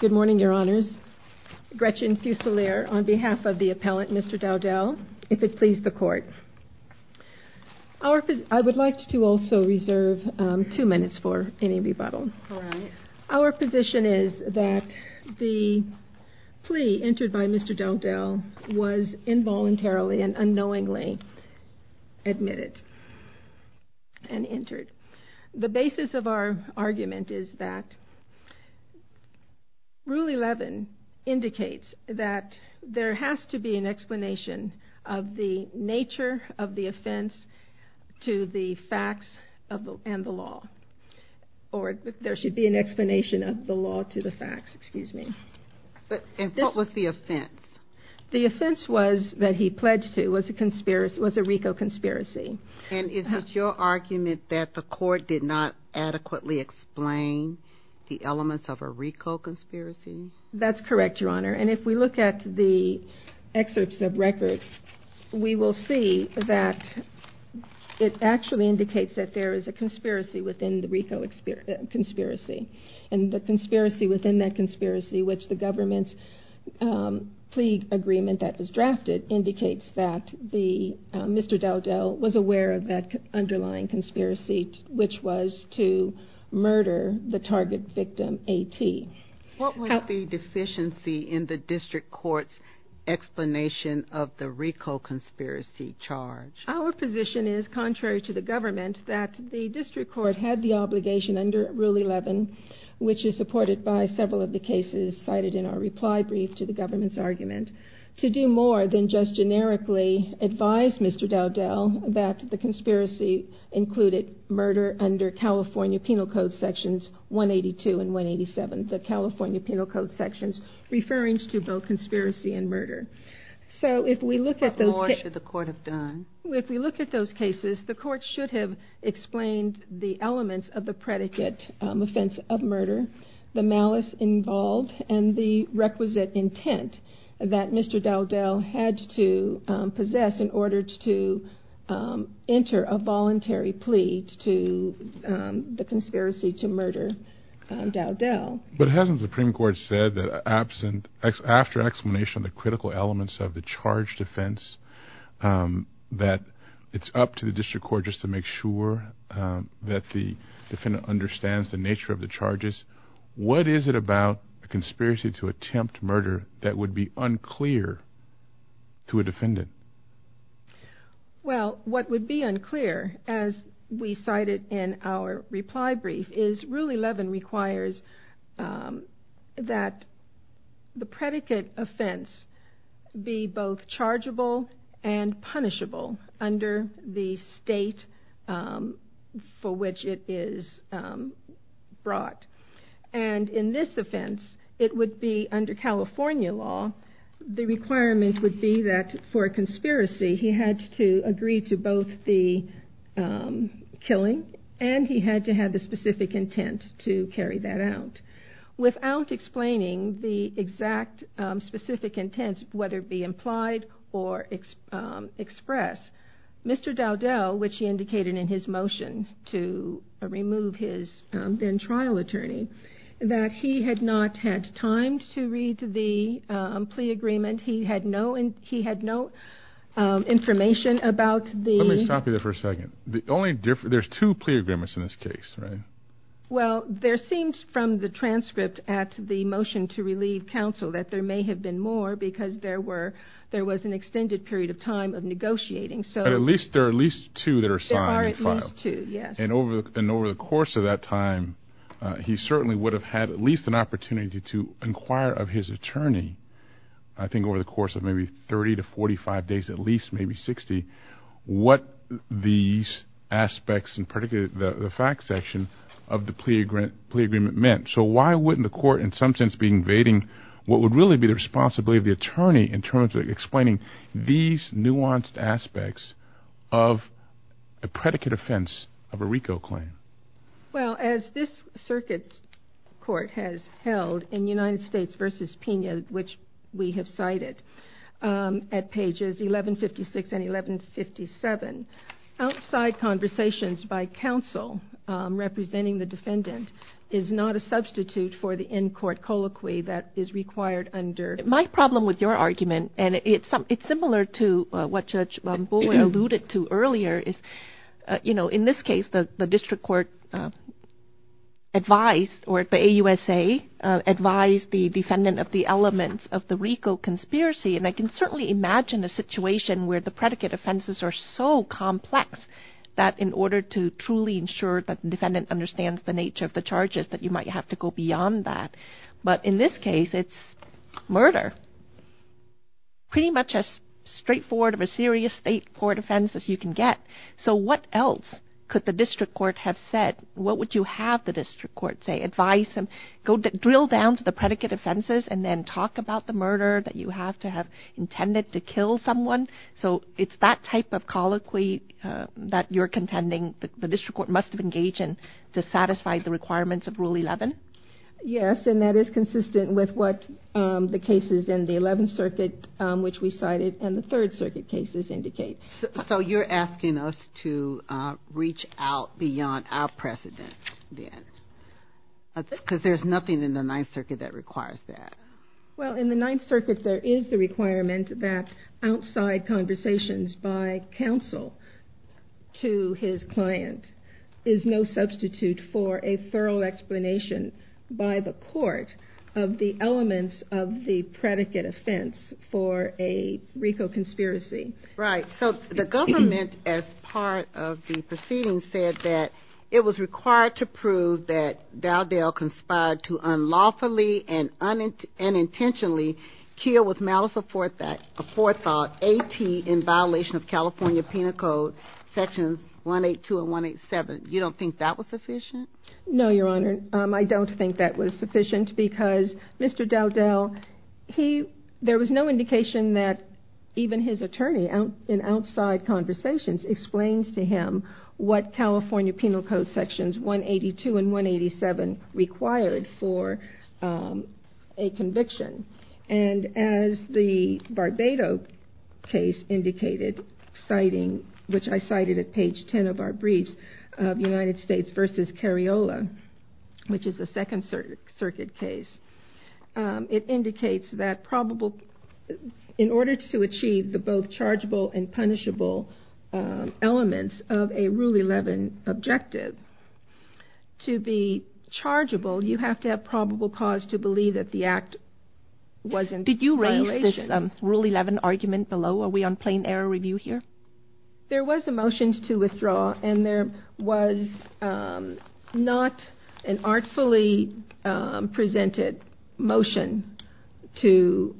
Good morning, Your Honors. Gretchen Fuselier on behalf of the appellant, Mr. Dowdell, if it please the Court. I would like to also reserve two minutes for any rebuttal. Our position is that the plea entered by Mr. Dowdell was involuntarily and unknowingly admitted and entered. The basis of our argument is that Rule 11 indicates that there has to be an explanation of the nature of the offense to the facts and the law. Or there should be an explanation of the law to the facts, excuse me. And what was the offense? The offense was, that he pledged to, was a RICO conspiracy. And is it your argument that the Court did not adequately explain the elements of a RICO conspiracy? That's correct, Your Honor. And if we look at the excerpts of record, we will see that it actually indicates that there is a conspiracy within the RICO conspiracy. And the conspiracy within that conspiracy, which the government's plea agreement that was drafted, indicates that Mr. Dowdell was aware of that underlying conspiracy, which was to murder the target victim, A.T. What was the deficiency in the district court's explanation of the RICO conspiracy charge? Our position is, contrary to the government, that the district court had the obligation under Rule 11, which is supported by several of the cases cited in our reply brief to the government's argument, to do more than just generically advise Mr. Dowdell that the conspiracy included murder under California Penal Code Sections 182 and 187, the California Penal Code Sections referring to both conspiracy and murder. So if we look at those cases... What more should the court have done? If we look at those cases, the court should have explained the elements of the predicate offense of murder, the malice involved, and the requisite intent that Mr. Dowdell had to possess in order to enter a voluntary plea to the conspiracy to murder Dowdell. But hasn't the Supreme Court said that after explanation of the critical elements of the defendant understands the nature of the charges, what is it about a conspiracy to attempt murder that would be unclear to a defendant? Well, what would be unclear, as we cited in our reply brief, is Rule 11 requires that the predicate offense be both chargeable and punishable under the state for which it is brought. And in this offense, it would be under California law, the requirement would be that for a conspiracy, he had to agree to both the killing and he had to have the exact specific intent, whether it be implied or expressed. Mr. Dowdell, which he indicated in his motion to remove his then-trial attorney, that he had not had time to read the plea agreement. He had no information about the... Let me stop you there for a second. There's two plea agreements in this case, right? Well, there seems from the transcript at the motion to relieve counsel that there may have been more because there was an extended period of time of negotiating. But at least there are at least two that are signed and filed. There are at least two, yes. And over the course of that time, he certainly would have had at least an opportunity to inquire of his attorney, I think over the course of maybe 30 to 45 days, at least maybe 60, what these aspects in particular, the fact section of the plea agreement meant. So why wouldn't the court in some sense be invading what would really be the responsibility of the attorney in terms of explaining these nuanced aspects of a predicate offense of a RICO claim? Well, as this circuit court has held in United States v. Pena, which we have cited at pages 1156 and 1157, outside conversations by counsel representing the defendant is not a substitute for the in-court colloquy that is required under... My problem with your argument, and it's similar to what Judge Bowen alluded to earlier, is in this case, the district court advised or the AUSA advised the defendant of the elements of the RICO conspiracy. And I can certainly imagine a situation where the predicate offenses are so complex that in order to truly ensure that the defendant understands the nature of the charges, that you might have to go beyond that. But in this case, it's murder, pretty much as straightforward of a serious state court offense as you can get. So what else could the district court have said? What would you have the district court say? Drill down to the predicate offenses and then talk about the murder that you have to have intended to kill someone. So it's that type of colloquy that you're contending the district court must have engaged in to satisfy the requirements of Rule 11? Yes, and that is consistent with what the cases in the 11th Circuit, which we cited, and the Third Circuit cases indicate. So you're asking us to reach out beyond our precedent then? Because there's nothing in the Ninth Circuit that requires that. Well, in the Ninth Circuit, there is the requirement that outside conversations by counsel to his client is no substitute for a thorough explanation by the court of the elements of the predicate offense for a RICO conspiracy. Right. So the government, as part of the proceedings, said that it was required to prove that Dowdell conspired to unlawfully and unintentionally kill with malice aforethought, A.T., in violation of California Penal Code Sections 182 and 187. You don't think that was sufficient? No, Your Honor. I don't think that was sufficient because Mr. Dowdell, there was no indication that even his attorney in outside conversations explains to him what California Penal Code Sections 182 and 187 required for a conviction. And as the Barbado case indicated, citing, which I cited at page 10 of our briefs, United States v. Cariola, which is a Second Circuit case, it indicates that in order to achieve the both chargeable and punishable elements of a Rule 11 objective, to be chargeable, you have to have probable cause to believe that the act was in violation. Did you raise this Rule 11 argument below? Are we on plain error review here? There was a motion to withdraw, and there was not an artfully presented motion to,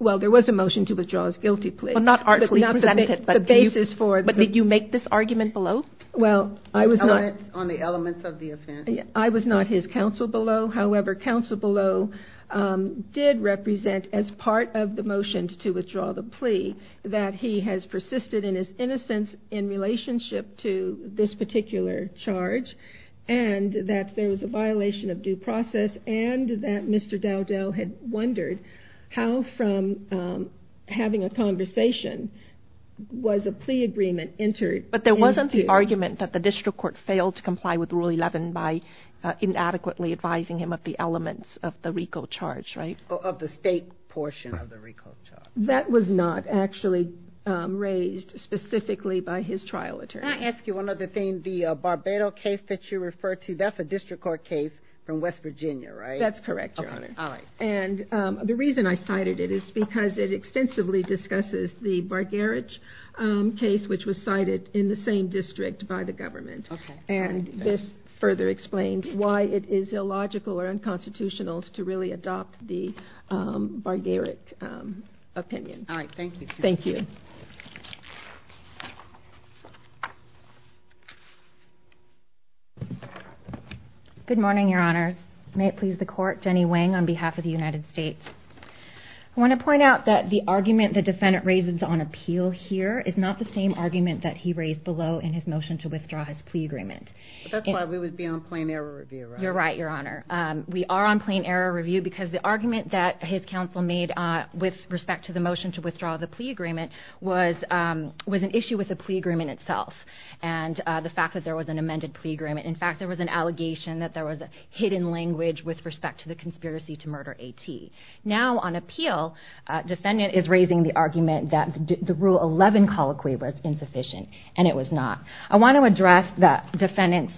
well, there was a motion to withdraw his guilty plea. Well, not artfully presented, but did you make this argument below? Well, I was not. On the elements of the offense? I was not his counsel below. However, counsel below did represent as part of the motion to withdraw the plea that he has persisted in his innocence in relationship to this particular charge, and that there having a conversation was a plea agreement entered into. But there wasn't the argument that the district court failed to comply with Rule 11 by inadequately advising him of the elements of the RICO charge, right? Of the state portion of the RICO charge. That was not actually raised specifically by his trial attorney. May I ask you one other thing? The Barbado case that you referred to, that's a district court case from West Virginia, right? That's correct, Your Honor. All right. And the reason I cited it is because it extensively discusses the Bargerich case, which was cited in the same district by the government. Okay. And this further explained why it is illogical or unconstitutional to really adopt the Bargerich opinion. All right, thank you. Thank you. Good morning, Your Honors. May it please the Court. Jenny Wang on behalf of the United States. I want to point out that the argument the defendant raises on appeal here is not the same argument that he raised below in his motion to withdraw his plea agreement. That's why we would be on plain error review, right? You're right, Your Honor. We are on plain error review because the argument that his counsel made with respect to the motion to withdraw the plea agreement was an issue with the plea agreement itself and the fact that there was an amended plea agreement. In fact, there was an allegation that there was a hidden language with respect to the conspiracy to murder A.T. Now, on appeal, defendant is raising the argument that the Rule 11 colloquy was insufficient and it was not. I want to address the defendant's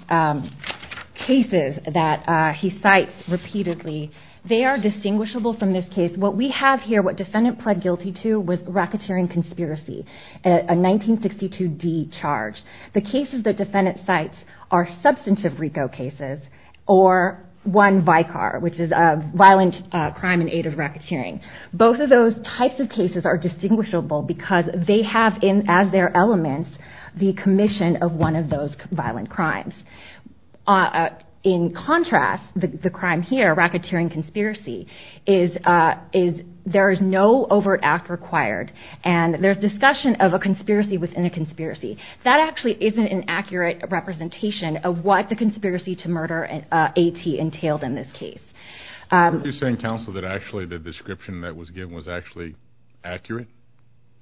cases that he cites repeatedly. They are distinguishable from this case. What we have here, what defendant pled guilty to, was racketeering conspiracy, a 1962 D charge. The cases that defendant cites are substantive RICO cases or one VICAR, which is a violent crime in aid of racketeering. Both of those types of cases are distinguishable because they have as their elements the commission of one of those violent crimes. In contrast, the crime here, racketeering conspiracy, there is no overt act required and there's discussion of a conspiracy within a conspiracy. That actually isn't an accurate representation of what the conspiracy to murder A.T. entailed in this case. Are you saying, counsel, that actually the description that was given was actually accurate?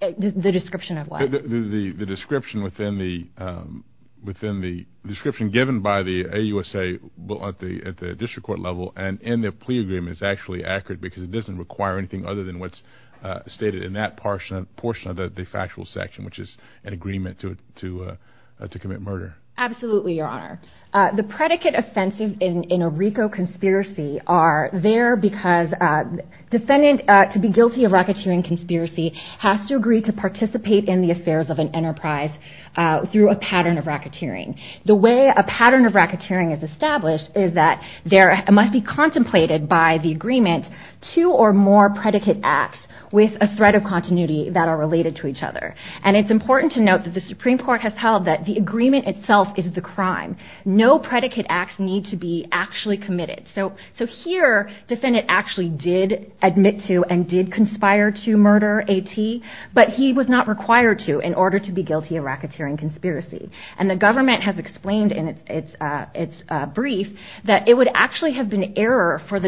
The description of what? The description given by the AUSA at the district court level and in their plea agreement is actually accurate because it doesn't require anything other than what's stated in that to commit murder. Absolutely, your honor. The predicate offenses in a RICO conspiracy are there because defendant to be guilty of racketeering conspiracy has to agree to participate in the affairs of an enterprise through a pattern of racketeering. The way a pattern of racketeering is established is that there must be contemplated by the agreement two or more predicate acts with a threat of continuity that are related to each other. It's important to note that the Supreme Court has held that the agreement itself is the crime. No predicate acts need to be actually committed. Here, defendant actually did admit to and did conspire to murder A.T. but he was not required to in order to be guilty of racketeering conspiracy. The government has explained in its brief that it would actually have been error for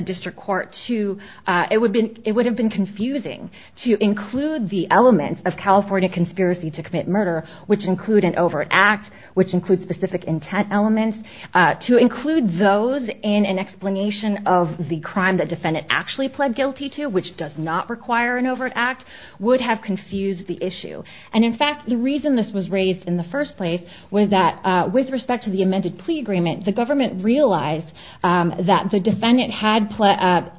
to commit murder, which include an overt act, which include specific intent elements. To include those in an explanation of the crime that defendant actually pled guilty to, which does not require an overt act, would have confused the issue. In fact, the reason this was raised in the first place was that with respect to the amended plea agreement, the government realized that the defendant had,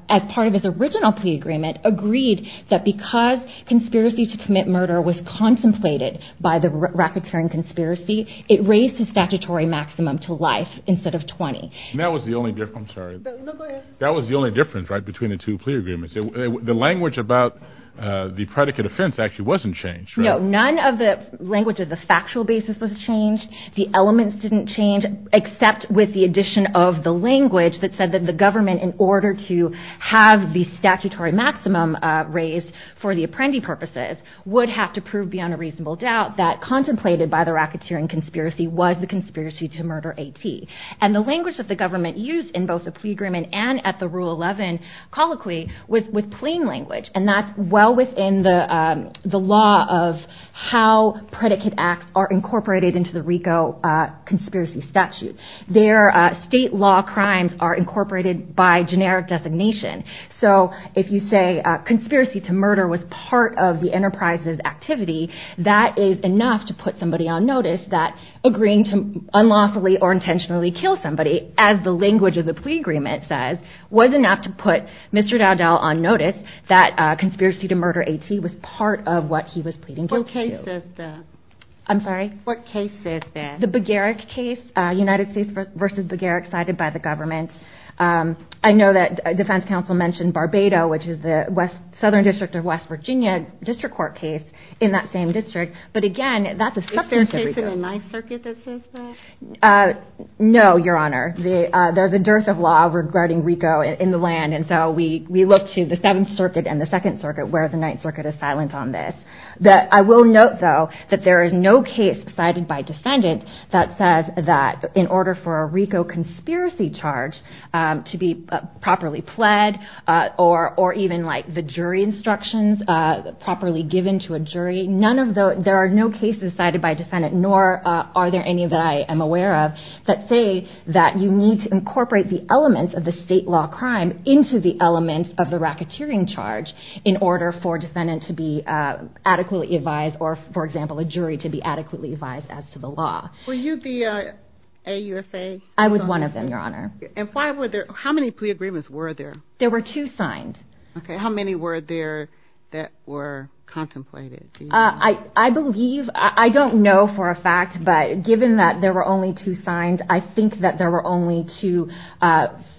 as part of his original plea agreement, agreed that because conspiracy to commit murder was contemplated by the racketeering conspiracy, it raised the statutory maximum to life instead of 20. And that was the only difference, I'm sorry. No, go ahead. That was the only difference, right, between the two plea agreements. The language about the predicate offense actually wasn't changed, right? No, none of the language of the factual basis was changed. The elements didn't change except with the addition of the language that said that the statutory maximum raised for the apprendi purposes would have to prove beyond a reasonable doubt that contemplated by the racketeering conspiracy was the conspiracy to murder AT. And the language that the government used in both the plea agreement and at the Rule 11 colloquy was plain language. And that's well within the law of how predicate acts are incorporated into the RICO conspiracy statute. Their state law crimes are incorporated by generic designation. So if you say conspiracy to murder was part of the enterprise's activity, that is enough to put somebody on notice that agreeing to unlawfully or intentionally kill somebody, as the language of the plea agreement says, was enough to put Mr. Dowdell on notice that conspiracy to murder AT was part of what he was pleading guilty to. What case is this? I'm sorry? What case is this? The Begarrick case, United States v. Begarrick, cited by the government. I know that defense counsel mentioned Barbado, which is the southern district of West Virginia, district court case in that same district. But again, that's a separate case. Is there a case in the Ninth Circuit that says that? No, Your Honor. There's a dearth of law regarding RICO in the land. And so we look to the Seventh Circuit and the Second Circuit where the Ninth Circuit is silent on this. I will note, though, that there is no case cited by defendant that says that in order for a RICO conspiracy charge to be properly pled or even the jury instructions properly given to a jury, there are no cases cited by defendant, nor are there any that I am aware of, that say that you need to incorporate the elements of the state law crime into the elements of the racketeering charge in order for a defendant to be adequately advised or, for example, a jury to be adequately advised as to the law. Were you the AUFA consultant? I was one of them, Your Honor. And how many plea agreements were there? There were two signed. Okay, how many were there that were contemplated? I believe, I don't know for a fact, but given that there were only two signed, I think that there were only two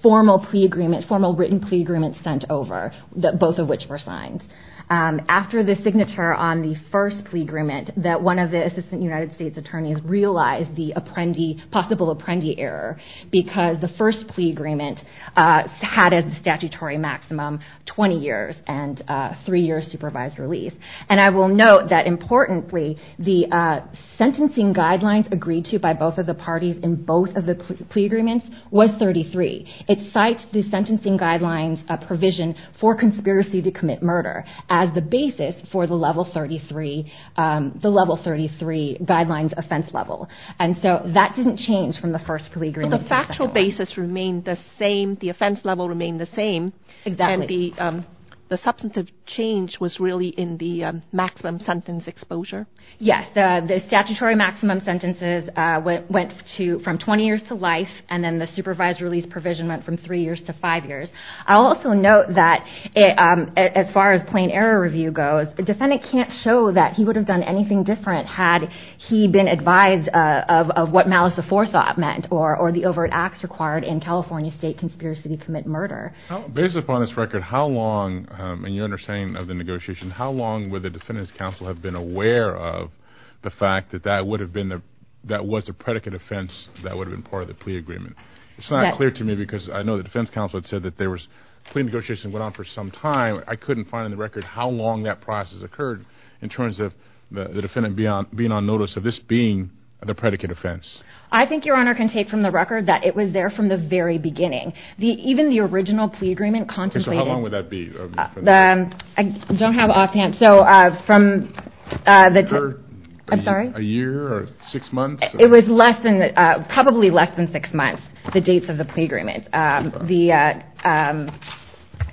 formal written plea agreements sent over, both of which were signed. After the signature on the first plea agreement, that one of the Assistant United States Attorneys realized the possible apprendee error because the first plea agreement had a statutory maximum 20 years and three years supervised release. And I will note that, importantly, the sentencing guidelines agreed to by both of the parties in both of the plea agreements was 33. It cites the sentencing guidelines provision for conspiracy to commit murder as the basis for the level 33 guidelines offense level. And so that didn't change from the first plea agreement to the second one. But the factual basis remained the same. The offense level remained the same. Exactly. And the substantive change was really in the maximum sentence exposure? Yes, the statutory maximum sentences went from 20 years to life, and then the supervised release provision went from three years to five years. I'll also note that, as far as plain error review goes, the defendant can't show that he would have done anything different had he been advised of what malice aforethought meant or the overt acts required in California state conspiracy to commit murder. Based upon this record, how long, in your understanding of the negotiation, how long would the defendant's counsel have been aware of the fact that that would have been the that was a predicate offense that would have been part of the plea agreement? It's not clear to me because I know the defense counsel had said that there was I couldn't find on the record how long that process occurred in terms of the defendant being on notice of this being the predicate offense. I think Your Honor can take from the record that it was there from the very beginning. Even the original plea agreement contemplated How long would that be? I don't have offhand. A year or six months? It was probably less than six months, the dates of the plea agreement. From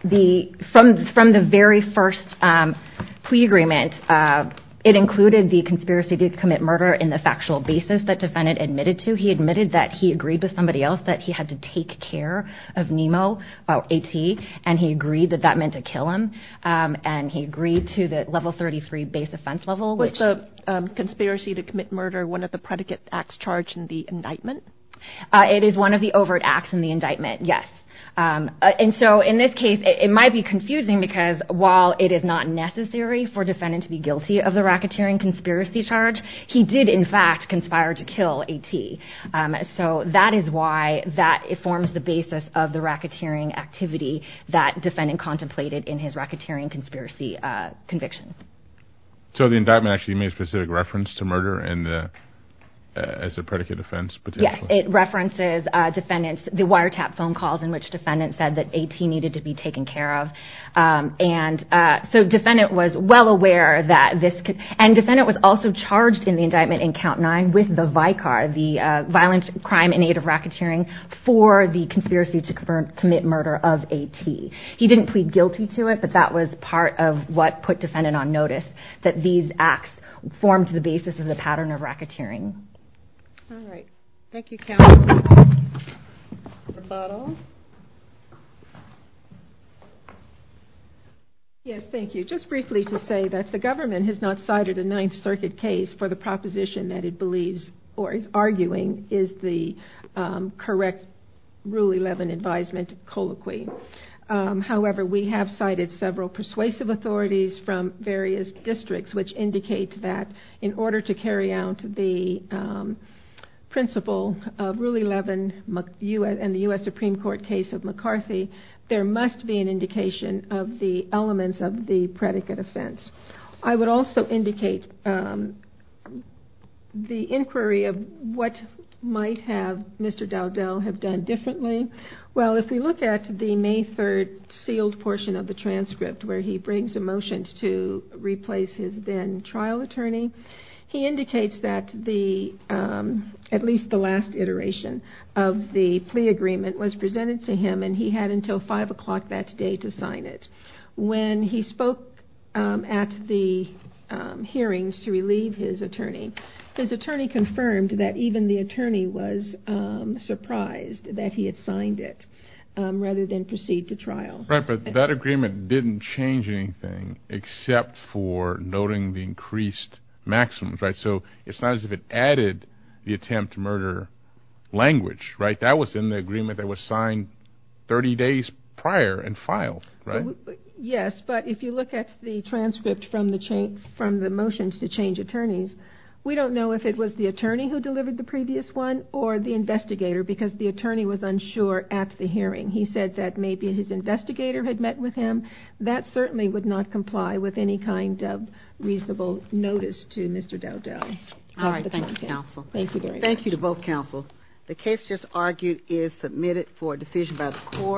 the very first plea agreement, it included the conspiracy to commit murder in the factual basis that the defendant admitted to. He admitted that he agreed with somebody else that he had to take care of Nemo, AT, and he agreed that that meant to kill him. And he agreed to the level 33 base offense level. Was the conspiracy to commit murder one of the predicate acts charged in the indictment? It is one of the overt acts in the indictment, yes. And so in this case, it might be confusing because while it is not necessary for the defendant to be guilty of the racketeering conspiracy charge, he did in fact conspire to kill AT. So that is why that forms the basis of the racketeering activity that the defendant contemplated in his racketeering conspiracy conviction. So the indictment actually made specific reference to murder as a predicate offense? Yes, it references the wiretap phone calls in which the defendant said that AT needed to be taken care of. And so the defendant was well aware that this could... And the defendant was also charged in the indictment in count nine with the VICAR, the violent crime in aid of racketeering, for the conspiracy to commit murder of AT. He didn't plead guilty to it, but that was part of what put the defendant on notice that these acts formed the basis of the pattern of racketeering. All right. Thank you, Count. Rebuttal? Yes, thank you. Just briefly to say that the government has not cited a Ninth Circuit case for the proposition that it believes, or is arguing, is the correct Rule 11 advisement colloquy. However, we have cited several persuasive authorities from various districts which indicate that in order to carry out the principle of Rule 11 and the U.S. Supreme Court case of McCarthy, there must be an indication of the elements of the predicate offense. I would also indicate the inquiry of what might have Mr. Dowdell have done differently. Well, if we look at the May 3rd sealed portion of the transcript where he brings a motion to replace his then trial attorney, he indicates that at least the last iteration of the plea agreement was presented to him, and he had until 5 o'clock that day to sign it. When he spoke at the hearings to relieve his attorney, his attorney confirmed that even the attorney was surprised that he had signed it rather than proceed to trial. Right, but that agreement didn't change anything except for noting the increased maximums, right? So it's not as if it added the attempt to murder language, right? That was in the agreement that was signed 30 days prior and filed, right? Yes, but if you look at the transcript from the motion to change attorneys, we don't know if it was the attorney who delivered the previous one or the investigator because the attorney was unsure at the hearing. He said that maybe his investigator had met with him. That certainly would not comply with any kind of reasonable notice to Mr. Dowdell. All right, thank you, counsel. Thank you very much. Thank you to both counsel. The case just argued is submitted for a decision by the court.